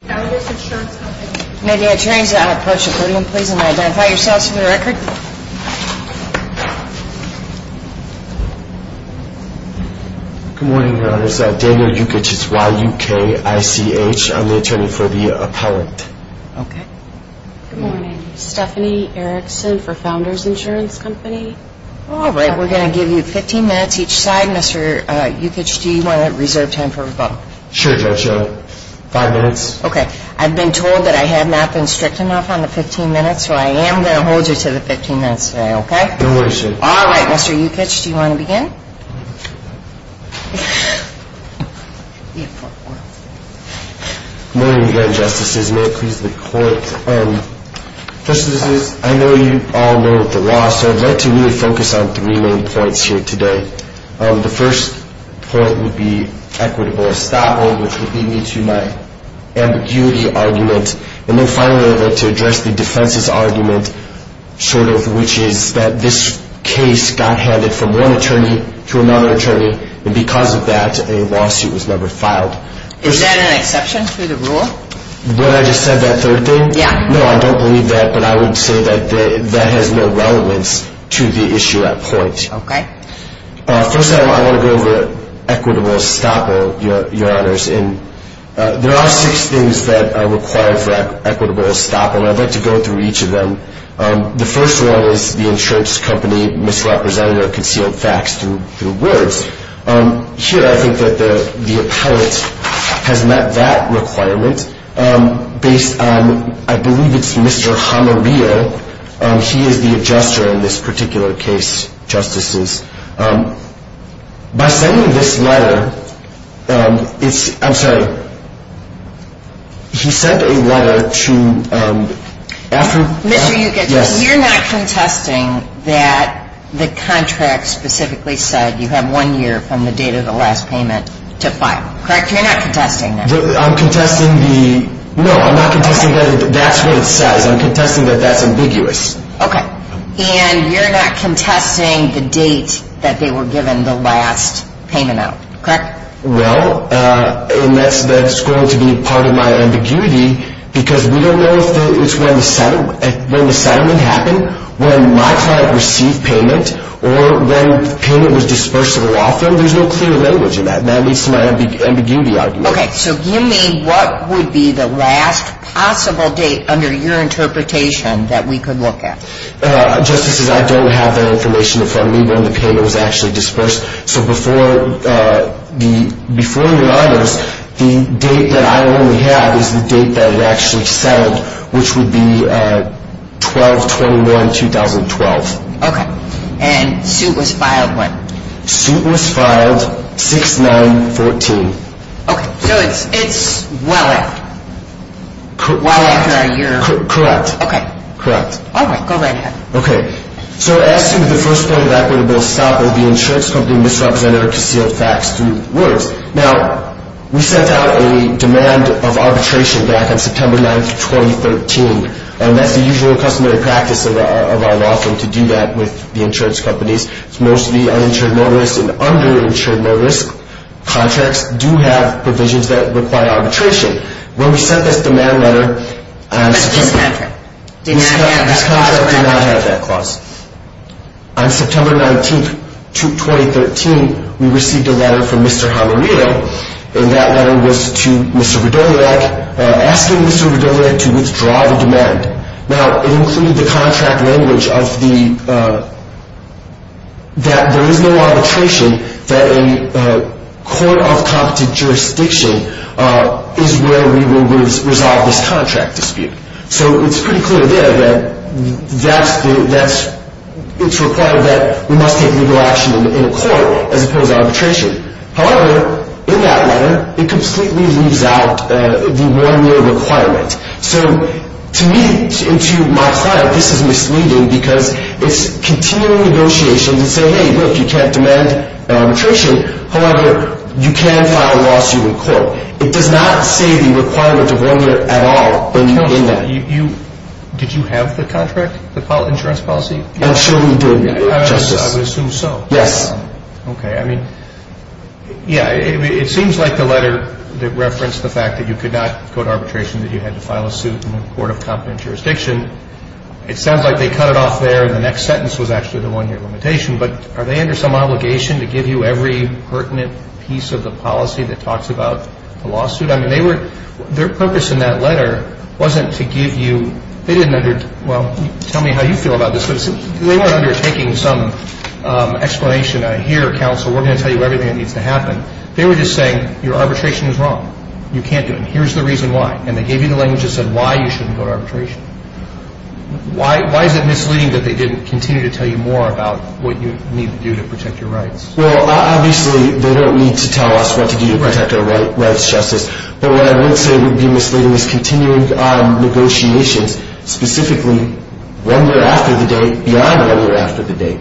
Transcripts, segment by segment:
May the attorneys that are on approach the podium please and identify yourselves for the record. Good morning, Your Honors. Daniel Ukich, it's Y-U-K-I-C-H. I'm the attorney for the appellant. Okay. Good morning. Stephanie Erickson for Founders Insurance Company. All right. We're going to give you 15 minutes each side. Mr. Ukich, do you want to reserve time for rebuttal? Sure, Judge. Five minutes. Okay. I've been told that I have not been strict enough on the 15 minutes, so I am going to hold you to the 15 minutes today, okay? No worries, Judge. All right. Mr. Ukich, do you want to begin? Good morning again, Justices. May it please the Court. Justices, I know you all know the law, so I'd like to really focus on three main points here today. The first point would be equitable estoppel, which would lead me to my ambiguity argument. And then finally, I'd like to address the defense's argument, which is that this case got handed from one attorney to another attorney, and because of that, a lawsuit was never filed. Is that an exception to the rule? What I just said, that third thing? Yeah. No, I don't believe that, but I would say that that has no relevance to the issue at point. Okay. First, I want to go over equitable estoppel, Your Honors. And there are six things that are required for equitable estoppel, and I'd like to go through each of them. The first one is the insurance company misrepresented or concealed facts through words. Here, I think that the appellate has met that requirement based on, I believe it's Mr. Jamarillo. He is the adjuster in this particular case, Justices. By sending this letter, it's – I'm sorry. He sent a letter to – Mr. Ukich, you're not contesting that the contract specifically said you have one year from the date of the last payment to file, correct? You're not contesting that? I'm contesting the – no, I'm not contesting that. That's what it says. I'm contesting that that's ambiguous. Okay. And you're not contesting the date that they were given the last payment out, correct? Well, and that's going to be part of my ambiguity because we don't know if it's when the settlement happened, when my client received payment, or when payment was disbursed to the law firm. There's no clear language in that, and that leads to my ambiguity argument. Okay. So give me what would be the last possible date under your interpretation that we could look at. Justices, I don't have that information in front of me when the payment was actually disbursed. So before your honors, the date that I only have is the date that it actually settled, which would be 12-21-2012. Okay. And suit was filed when? Suit was filed 6-9-14. Okay. So it's well after. Correct. Well after a year. Correct. Okay. Correct. All right. Go right ahead. Okay. So as soon as the first point of equity was sought, the insurance company misrepresented or concealed facts through words. Now, we sent out a demand of arbitration back on September 9, 2013, and that's the usual customary practice of our law firm to do that with the insurance companies. It's mostly uninsured low-risk and under-insured low-risk. Contracts do have provisions that require arbitration. When we sent this demand letter, this contract did not have that clause. On September 19, 2013, we received a letter from Mr. Hamarito, and that letter was to Mr. Widoliak, asking Mr. Widoliak to withdraw the demand. Now, it included the contract language that there is no arbitration, that a court of competent jurisdiction is where we will resolve this contract dispute. So it's pretty clear there that it's required that we must take legal action in a court as opposed to arbitration. However, in that letter, it completely leaves out the one-year requirement. So to me and to my client, this is misleading because it's continuing negotiations and saying, hey, look, you can't demand arbitration. However, you can file a lawsuit in court. It does not say the requirement of one year at all in that. Did you have the contract, the insurance policy? I'm sure we did, Justice. I would assume so. Yes. Okay. I mean, yeah, it seems like the letter referenced the fact that you could not go to arbitration, that you had to file a suit in a court of competent jurisdiction. It sounds like they cut it off there, and the next sentence was actually the one-year limitation. But are they under some obligation to give you every pertinent piece of the policy that talks about the lawsuit? I mean, they were – their purpose in that letter wasn't to give you – they didn't – well, tell me how you feel about this. They weren't undertaking some explanation of here, counsel, we're going to tell you everything that needs to happen. They were just saying your arbitration is wrong. You can't do it, and here's the reason why. And they gave you the language that said why you shouldn't go to arbitration. Why is it misleading that they didn't continue to tell you more about what you need to do to protect your rights? Well, obviously, they don't need to tell us what to do to protect our rights, Justice. But what I would say would be misleading is continuing negotiations, specifically one year after the date, beyond one year after the date.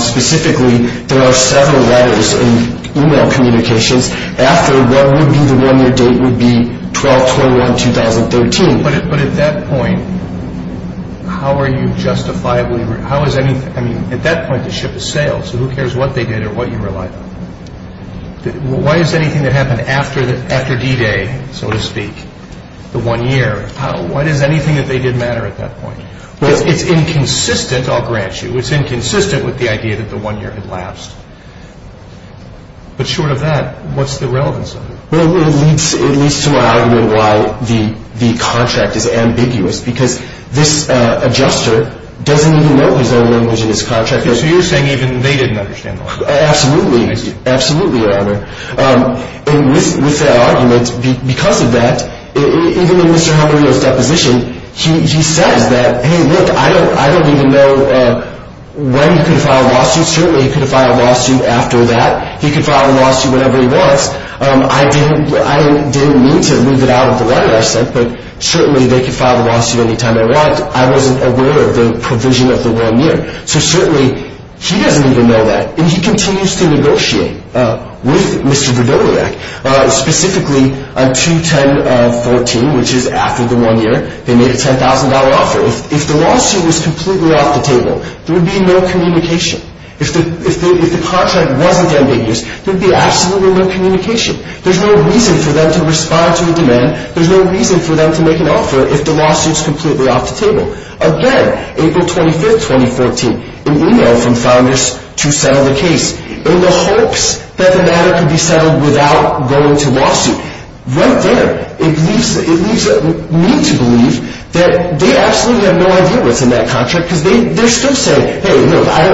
Specifically, there are several letters and e-mail communications after what would be the one-year date would be 12-21-2013. But at that point, how are you justifiably – how is any – I mean, at that point, the ship is sailed, so who cares what they did or what you relied on? Why does anything that happened after D-Day, so to speak, the one year, why does anything that they did matter at that point? It's inconsistent, I'll grant you. It's inconsistent with the idea that the one year had lapsed. But short of that, what's the relevance of it? Well, it leads to my argument why the contract is ambiguous, because this adjuster doesn't even know his own language in this contract. So you're saying even they didn't understand the language? Absolutely. Absolutely, Your Honor. And with that argument, because of that, even in Mr. Jaramillo's deposition, he says that, hey, look, I don't even know when he could file a lawsuit. Certainly he could file a lawsuit after that. He could file a lawsuit whenever he wants. I didn't mean to leave it out of the letter I sent, but certainly they could file a lawsuit any time they want. I wasn't aware of the provision of the one year. So certainly he doesn't even know that. And he continues to negotiate with Mr. Dododak, specifically on 2-10-14, which is after the one year, they made a $10,000 offer. If the lawsuit was completely off the table, there would be no communication. If the contract wasn't ambiguous, there would be absolutely no communication. There's no reason for them to respond to a demand. There's no reason for them to make an offer if the lawsuit's completely off the table. Again, April 25, 2014, an email from Founders to settle the case in the hopes that the matter could be settled without going to lawsuit. Right there, it leaves me to believe that they absolutely have no idea what's in that contract, because they're still saying, hey, look, I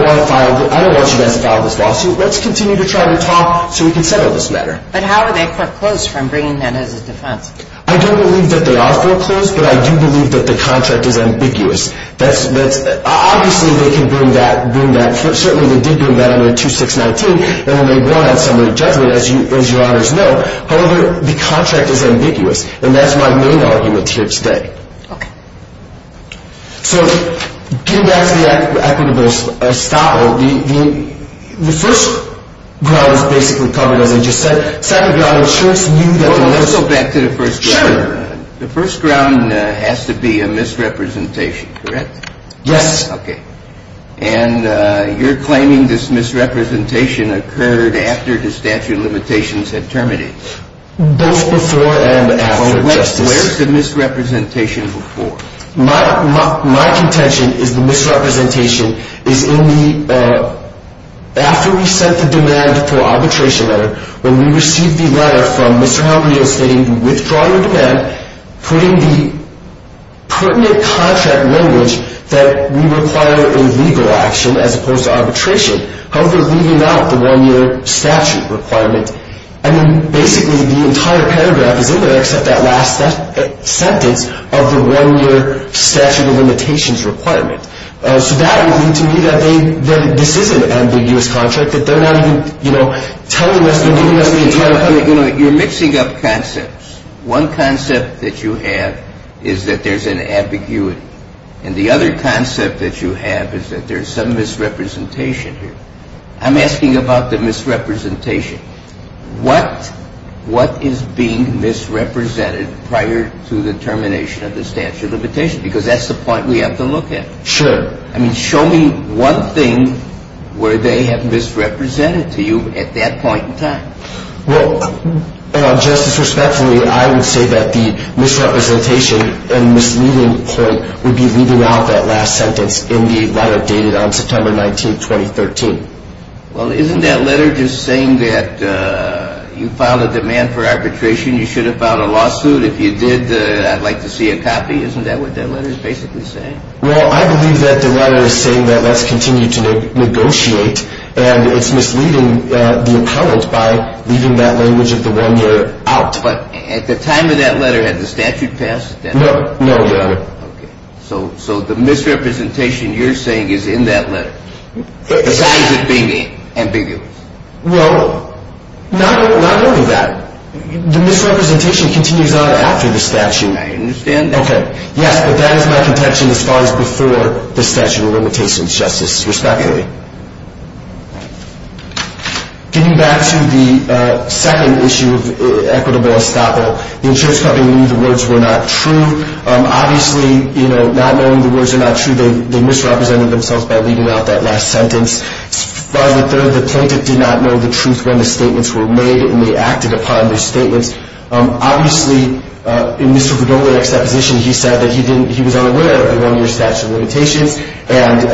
don't want you guys to file this lawsuit. Let's continue to try to talk so we can settle this matter. But how are they foreclosed from bringing that as a defense? I don't believe that they are foreclosed, but I do believe that the contract is ambiguous. Obviously, they can bring that. Certainly, they did bring that under 2-6-19. And they will have summary judgment, as your honors know. However, the contract is ambiguous. And that's my main argument here today. Okay. So getting back to the equitable style, the first ground is basically covered, as I just said. Well, let's go back to the first ground. Sure. The first ground has to be a misrepresentation, correct? Yes. Okay. And you're claiming this misrepresentation occurred after the statute of limitations had terminated. Both before and after, Justice. Well, where's the misrepresentation before? My contention is the misrepresentation is in the, after we sent the demand for arbitration letter, when we received the letter from Mr. Halgrenio stating withdraw your demand, putting the pertinent contract language that we require a legal action as opposed to arbitration, however, leaving out the one-year statute requirement. I mean, basically, the entire paragraph is in there except that last sentence of the one-year statute of limitations requirement. So that would mean to me that this is an ambiguous contract, that they're not even telling us, they're giving us the entire paragraph. You're mixing up concepts. One concept that you have is that there's an ambiguity. And the other concept that you have is that there's some misrepresentation here. I'm asking about the misrepresentation. What is being misrepresented prior to the termination of the statute of limitations? Because that's the point we have to look at. Sure. I mean, show me one thing where they have misrepresented to you at that point in time. Well, Justice, respectfully, I would say that the misrepresentation and misleading point would be leaving out that last sentence in the letter dated on September 19, 2013. Well, isn't that letter just saying that you filed a demand for arbitration? You should have filed a lawsuit. If you did, I'd like to see a copy. Isn't that what that letter is basically saying? Well, I believe that the letter is saying that let's continue to negotiate, and it's misleading the appellant by leaving that language of the one-year out. But at the time of that letter, had the statute passed? No, no, Your Honor. Okay. So the misrepresentation you're saying is in that letter, besides it being ambiguous. Well, not only that. The misrepresentation continues on after the statute. I understand that. Okay. Yes, but that is my contention as far as before the statute of limitations, Justice, respectfully. Getting back to the second issue of equitable estoppel, the insurance company knew the words were not true. Obviously, not knowing the words are not true, they misrepresented themselves by leaving out that last sentence. By the third, the plaintiff did not know the truth when the statements were made, and they acted upon those statements. Obviously, in Mr. Verdola's exposition, he said that he was unaware of the one-year statute of limitations, and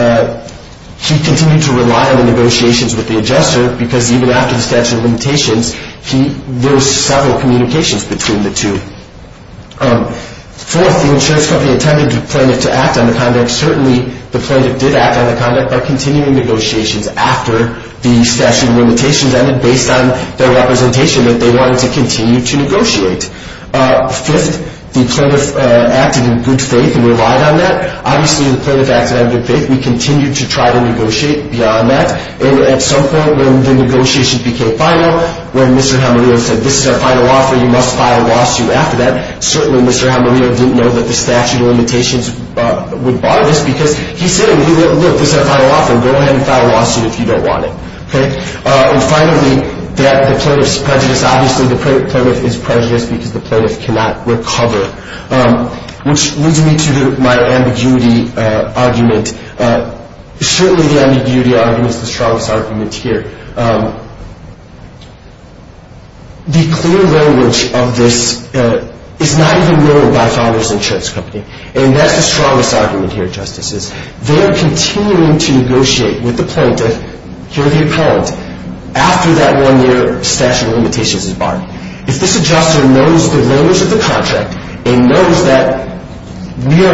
he continued to rely on the negotiations with the adjuster because even after the statute of limitations, there were several communications between the two. Fourth, the insurance company intended the plaintiff to act on the conduct. They were continuing negotiations after the statute of limitations ended, based on their representation that they wanted to continue to negotiate. Fifth, the plaintiff acted in good faith and relied on that. Obviously, the plaintiff acted in good faith. We continued to try to negotiate beyond that, and at some point when the negotiations became final, when Mr. Jamarillo said, this is our final offer, you must file a lawsuit after that, certainly Mr. Jamarillo didn't know that the statute of limitations would bar this because he said, look, this is our final offer. Go ahead and file a lawsuit if you don't want it. And finally, the plaintiff's prejudice. Obviously, the plaintiff is prejudiced because the plaintiff cannot recover, which leads me to my ambiguity argument. Certainly, the ambiguity argument is the strongest argument here. The clear language of this is not even known by Founders Insurance Company, and that's the strongest argument here, Justices. They are continuing to negotiate with the plaintiff, here the appellant, after that one-year statute of limitations is barred. If this adjuster knows the language of the contract and knows that we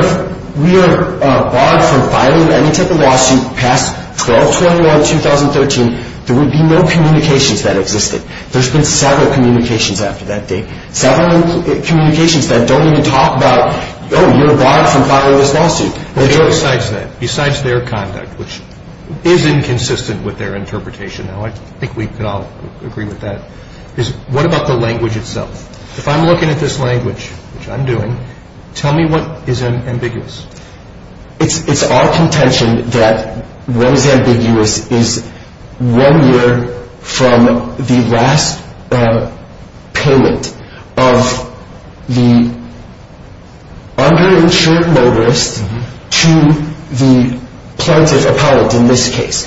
are barred from filing any type of lawsuit past 12-21-2013, there would be no communications that existed. There's been several communications after that date, several communications that don't even talk about, oh, you're barred from filing this lawsuit. Besides that, besides their conduct, which is inconsistent with their interpretation, and I think we can all agree with that, is what about the language itself? If I'm looking at this language, which I'm doing, tell me what is ambiguous. It's our contention that what is ambiguous is one year from the last payment of the underinsured motorist to the plaintiff, appellant, in this case.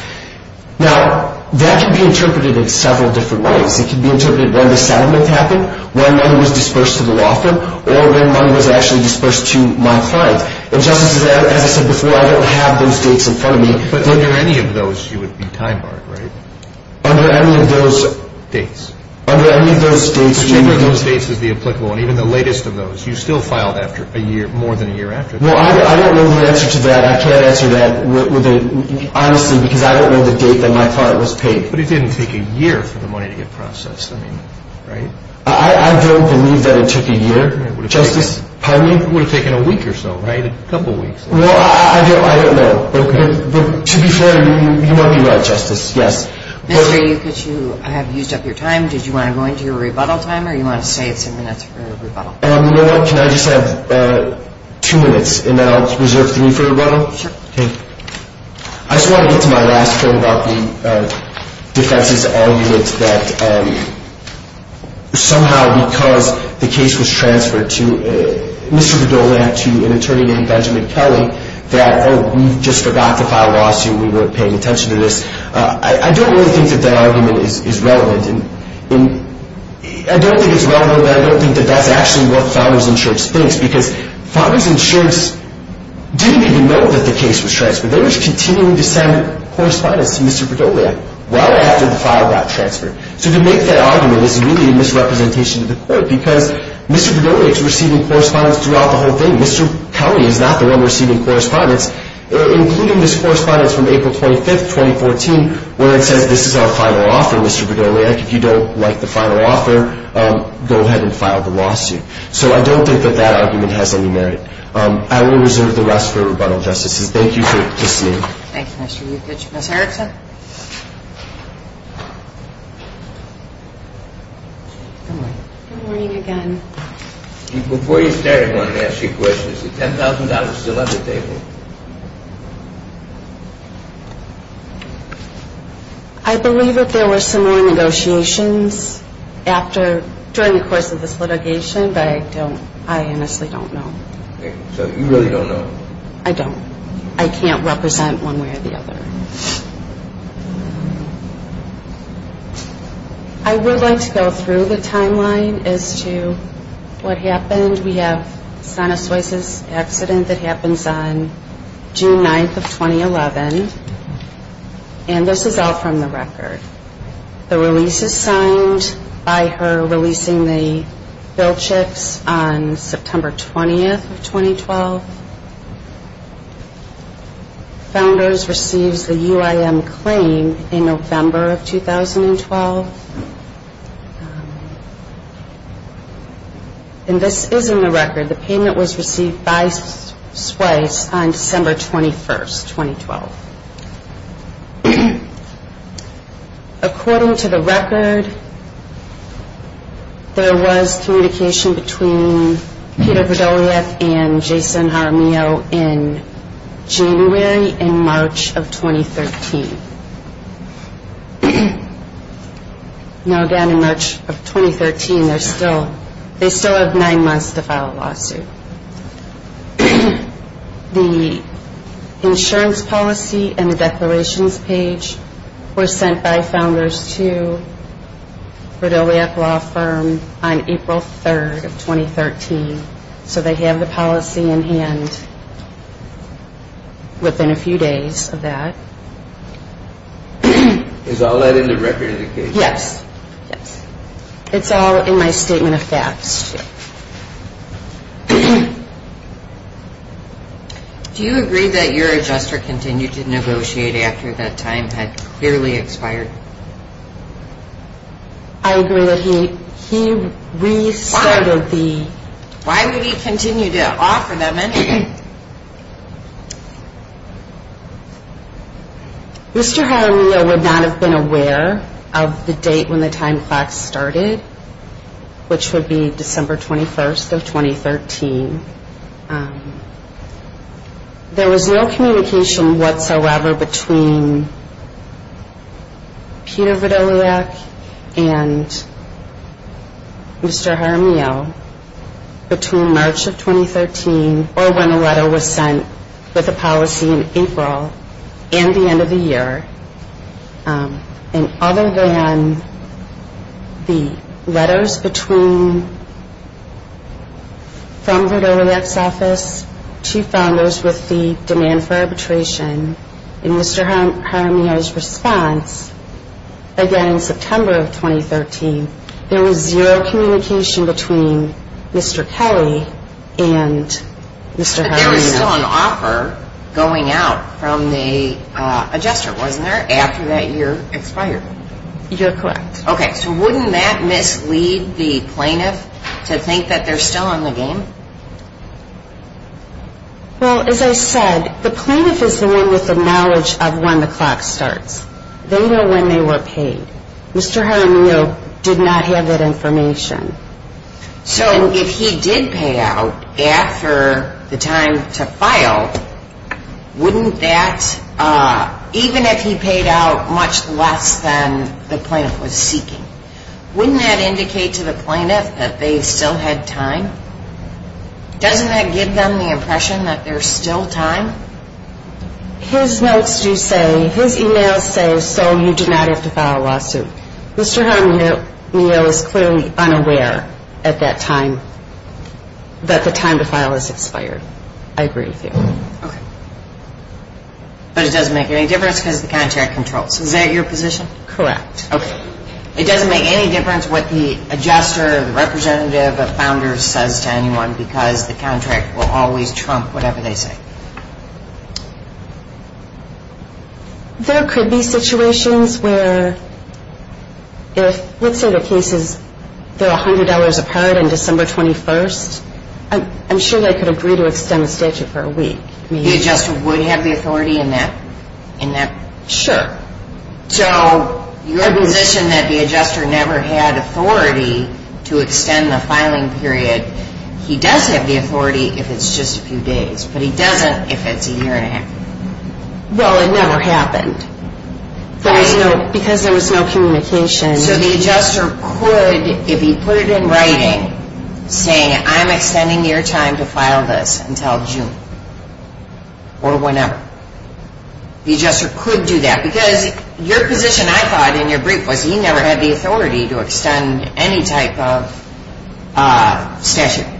Now, that can be interpreted in several different ways. It can be interpreted when the settlement happened, when money was dispersed to the law firm, or when money was actually dispersed to my client. And just as I said before, I don't have those dates in front of me. But under any of those, you would be time-barred, right? Under any of those dates. Under any of those dates. Whichever of those dates is the applicable one, even the latest of those. You still filed after a year, more than a year after that. Well, I don't know the answer to that. I can't answer that, honestly, because I don't know the date that my client was paid. But it didn't take a year for the money to get processed, I mean, right? I don't believe that it took a year, Justice. Pardon me? It would have taken a week or so, right? A couple weeks. Well, I don't know. Okay. But to be fair, you might be right, Justice, yes. Mr. Yukich, you have used up your time. Did you want to go into your rebuttal time, or do you want to say it's ten minutes for your rebuttal? You know what? Can I just have two minutes, and then I'll reserve three for rebuttal? Sure. Okay. I just want to get to my last point about the defense's argument that somehow, because the case was transferred to Mr. Verdola and to an attorney named Benjamin Kelly, that, oh, we just forgot to file a lawsuit, we weren't paying attention to this. I don't really think that that argument is relevant. I don't think it's relevant, and I don't think that that's actually what Father's Insurance thinks, because Father's Insurance didn't even know that the case was transferred. They were continuing to send correspondence to Mr. Verdola well after the file got transferred. So to make that argument is really a misrepresentation to the court, because Mr. Verdola is receiving correspondence throughout the whole thing. Mr. Kelly is not the one receiving correspondence, including this correspondence from April 25, 2014, where it says this is our final offer, Mr. Verdola. If you don't like the final offer, go ahead and file the lawsuit. So I don't think that that argument has any merit. I will reserve the rest for rebuttal, Justice. Thank you for listening. Thank you, Mr. Euclid. Ms. Erickson? Good morning. Good morning again. Before you start, I want to ask you a question. Is the $10,000 still at the table? I believe that there were similar negotiations during the course of this litigation, but I honestly don't know. So you really don't know? I don't. I can't represent one way or the other. I would like to go through the timeline as to what happened. We have Sonna Soice's accident that happens on June 9, 2011, and this is all from the record. The release is signed by her releasing the bill checks on September 20, 2012. Founders receives the UIM claim in November of 2012, and this is in the record. The payment was received by Soice on December 21, 2012. According to the record, there was communication between Peter Podoliev and Jason Jaramillo in January and March of 2013. Now, down in March of 2013, they still have nine months to file a lawsuit. The insurance policy and the declarations page were sent by Founders to Podoliev Law Firm on April 3, 2013. So they have the policy in hand within a few days of that. Is all that in the record of the case? Yes. It's all in my statement of facts. Do you agree that your adjuster continued to negotiate after that time had clearly expired? I agree that he restarted the... Why would he continue to offer them anything? Mr. Jaramillo would not have been aware of the date when the time clocks started, which would be December 21, 2013. There was no communication whatsoever between Peter Podoliev and Mr. Jaramillo between March of 2013 or when the letter was sent with the policy in April and the end of the year. And other than the letters from Podoliev's office to Founders with the demand for arbitration, in Mr. Jaramillo's response, again in September of 2013, there was zero communication between Mr. Kelly and Mr. Jaramillo. There was still an offer going out from the adjuster, wasn't there, after that year expired? You're correct. Okay, so wouldn't that mislead the plaintiff to think that they're still in the game? Well, as I said, the plaintiff is the one with the knowledge of when the clock starts. They know when they were paid. Mr. Jaramillo did not have that information. So if he did pay out after the time to file, wouldn't that, even if he paid out much less than the plaintiff was seeking, wouldn't that indicate to the plaintiff that they still had time? Doesn't that give them the impression that there's still time? His notes do say, his emails say, so you did not have to file a lawsuit. Mr. Jaramillo is clearly unaware at that time that the time to file has expired. I agree with you. Okay. But it doesn't make any difference because the contract controls. Is that your position? Correct. Okay. It doesn't make any difference what the adjuster or the representative or the founder says to anyone because the contract will always trump whatever they say. There could be situations where if, let's say the case is they're $100 apart on December 21st, I'm sure they could agree to extend the statute for a week. The adjuster would have the authority in that? Sure. So your position that the adjuster never had authority to extend the filing period, he does have the authority if it's just a few days. But he doesn't if it's a year and a half. Well, it never happened because there was no communication. So the adjuster could, if he put it in writing saying, I'm extending your time to file this until June or whenever, the adjuster could do that because your position I thought in your brief was he never had the authority to extend any type of statute.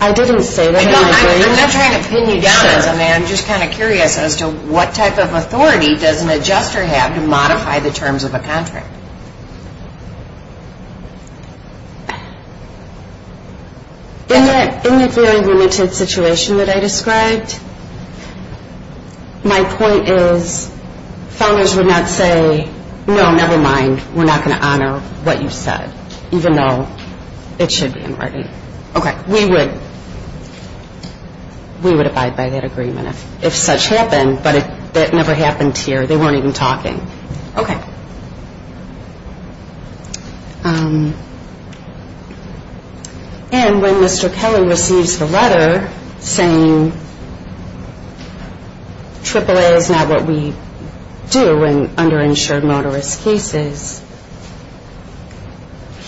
I didn't say that in your brief. I'm not trying to pin you down as a man. I'm just kind of curious as to what type of authority does an adjuster have to modify the terms of a contract? In the very limited situation that I described, my point is founders would not say, no, never mind, we're not going to honor what you said, even though it should be in writing. Okay. We would abide by that agreement if such happened, but that never happened here. They weren't even talking. Okay. And when Mr. Kelly receives the letter saying AAA is not what we do in underinsured motorist cases,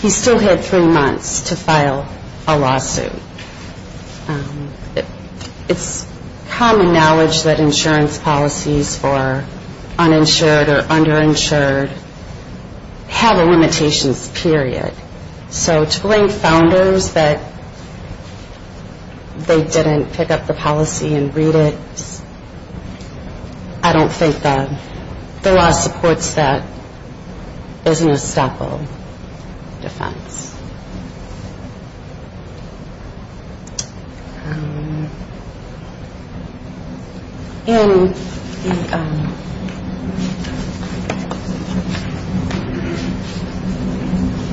he still had three months to file a lawsuit. It's common knowledge that insurance policies for uninsured or underinsured motorists have a limitations period. So to blame founders that they didn't pick up the policy and read it, I don't think the law supports that as an estoppel defense. And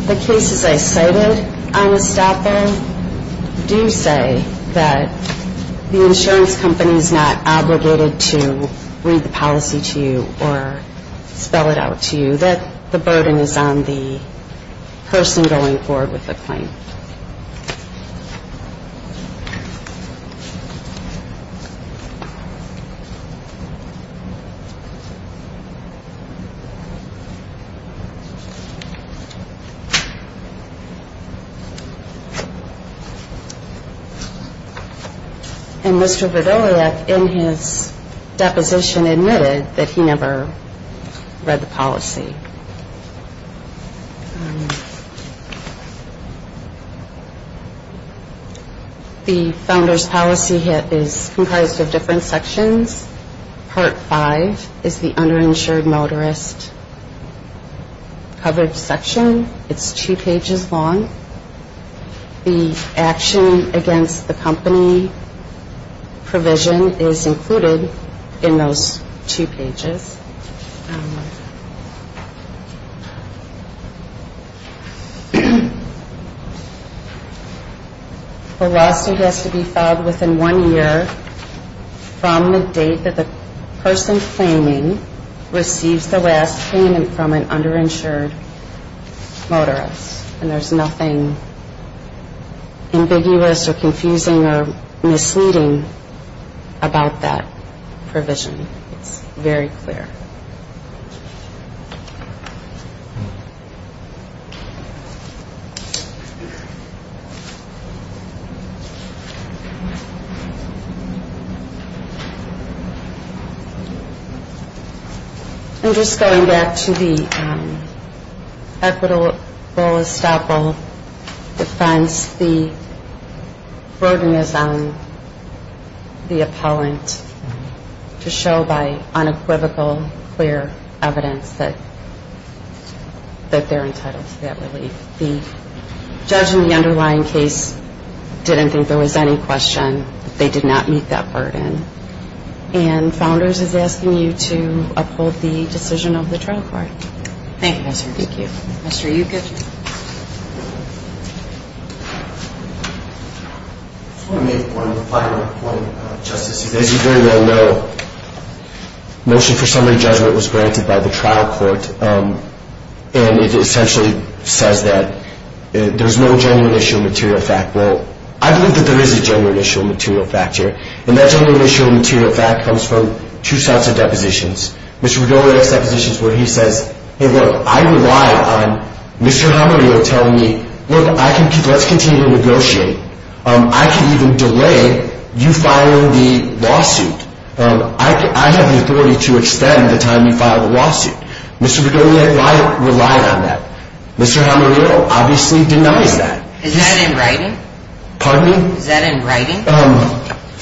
the cases I cited on estoppel do say that the insurance company is not obligated to read the policy to you or spell it out to you, and that the burden is on the person going forward with the claim. And Mr. Vidolyak in his deposition admitted that he never read the policy. The founder's policy is comprised of different sections. Part five is the underinsured motorist coverage section. It's two pages long. The action against the company provision is included in those two pages. The lawsuit has to be filed within one year from the date that the person claiming receives the last payment from an underinsured motorist. And there's nothing ambiguous or confusing or misleading about that provision. It's very clear. I'm just going back to the equitable estoppel defense. The burden is on the appellant to show by unequivocal evidence. It's very clear evidence that they're entitled to that relief. The judge in the underlying case didn't think there was any question. They did not meet that burden. And Founders is asking you to uphold the decision of the trial court. Thank you, Mr. Dickey. Mr. Ukich. I just want to make one final point, Justice. As you very well know, motion for summary judgment was granted by the trial court. And it essentially says that there's no genuine issue of material fact. Well, I believe that there is a genuine issue of material fact here. And that genuine issue of material fact comes from two sets of depositions. Mr. Bergoglio has depositions where he says, hey, look, I rely on Mr. Jaramillo telling me, look, let's continue to negotiate. I can even delay you filing the lawsuit. I have the authority to extend the time you file the lawsuit. Mr. Bergoglio relied on that. Mr. Jaramillo obviously denies that. Is that in writing? Pardon me? Is that in writing?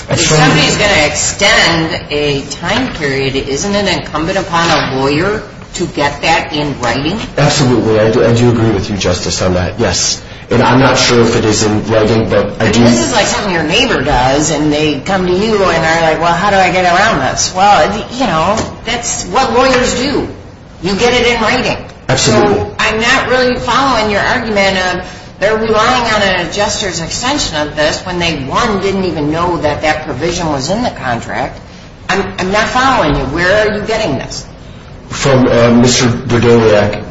If somebody is going to extend a time period, isn't it incumbent upon a lawyer to get that in writing? Absolutely. I do agree with you, Justice, on that, yes. And I'm not sure if it is in writing, but I do. This is like something your neighbor does, and they come to you and are like, well, how do I get around this? Well, you know, that's what lawyers do. You get it in writing. Absolutely. So I'm not really following your argument of they're relying on an adjuster's extension of this when they, one, didn't even know that that provision was in the contract. I'm not following you. Where are you getting this? From Mr. Bergoglio,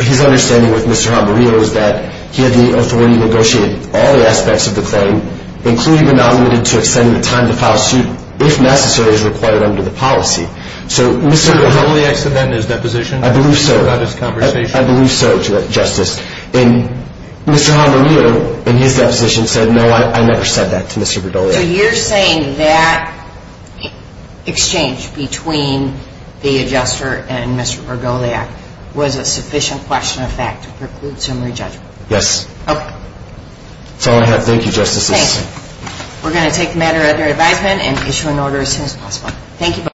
his understanding with Mr. Jaramillo is that he had the authority to negotiate all the aspects of the claim, including the non-limited to extend the time to file a suit, if necessary, as required under the policy. So Mr. Bergoglio said that in his deposition. I believe so. I believe so, Justice. And Mr. Jaramillo, in his deposition, said, no, I never said that to Mr. Bergoglio. So you're saying that exchange between the adjuster and Mr. Bergoglio was a sufficient question of fact to preclude summary judgment? Yes. Okay. That's all I have. Thank you, Justices. Thanks. We're going to take the matter under advisement and issue an order as soon as possible. Thank you.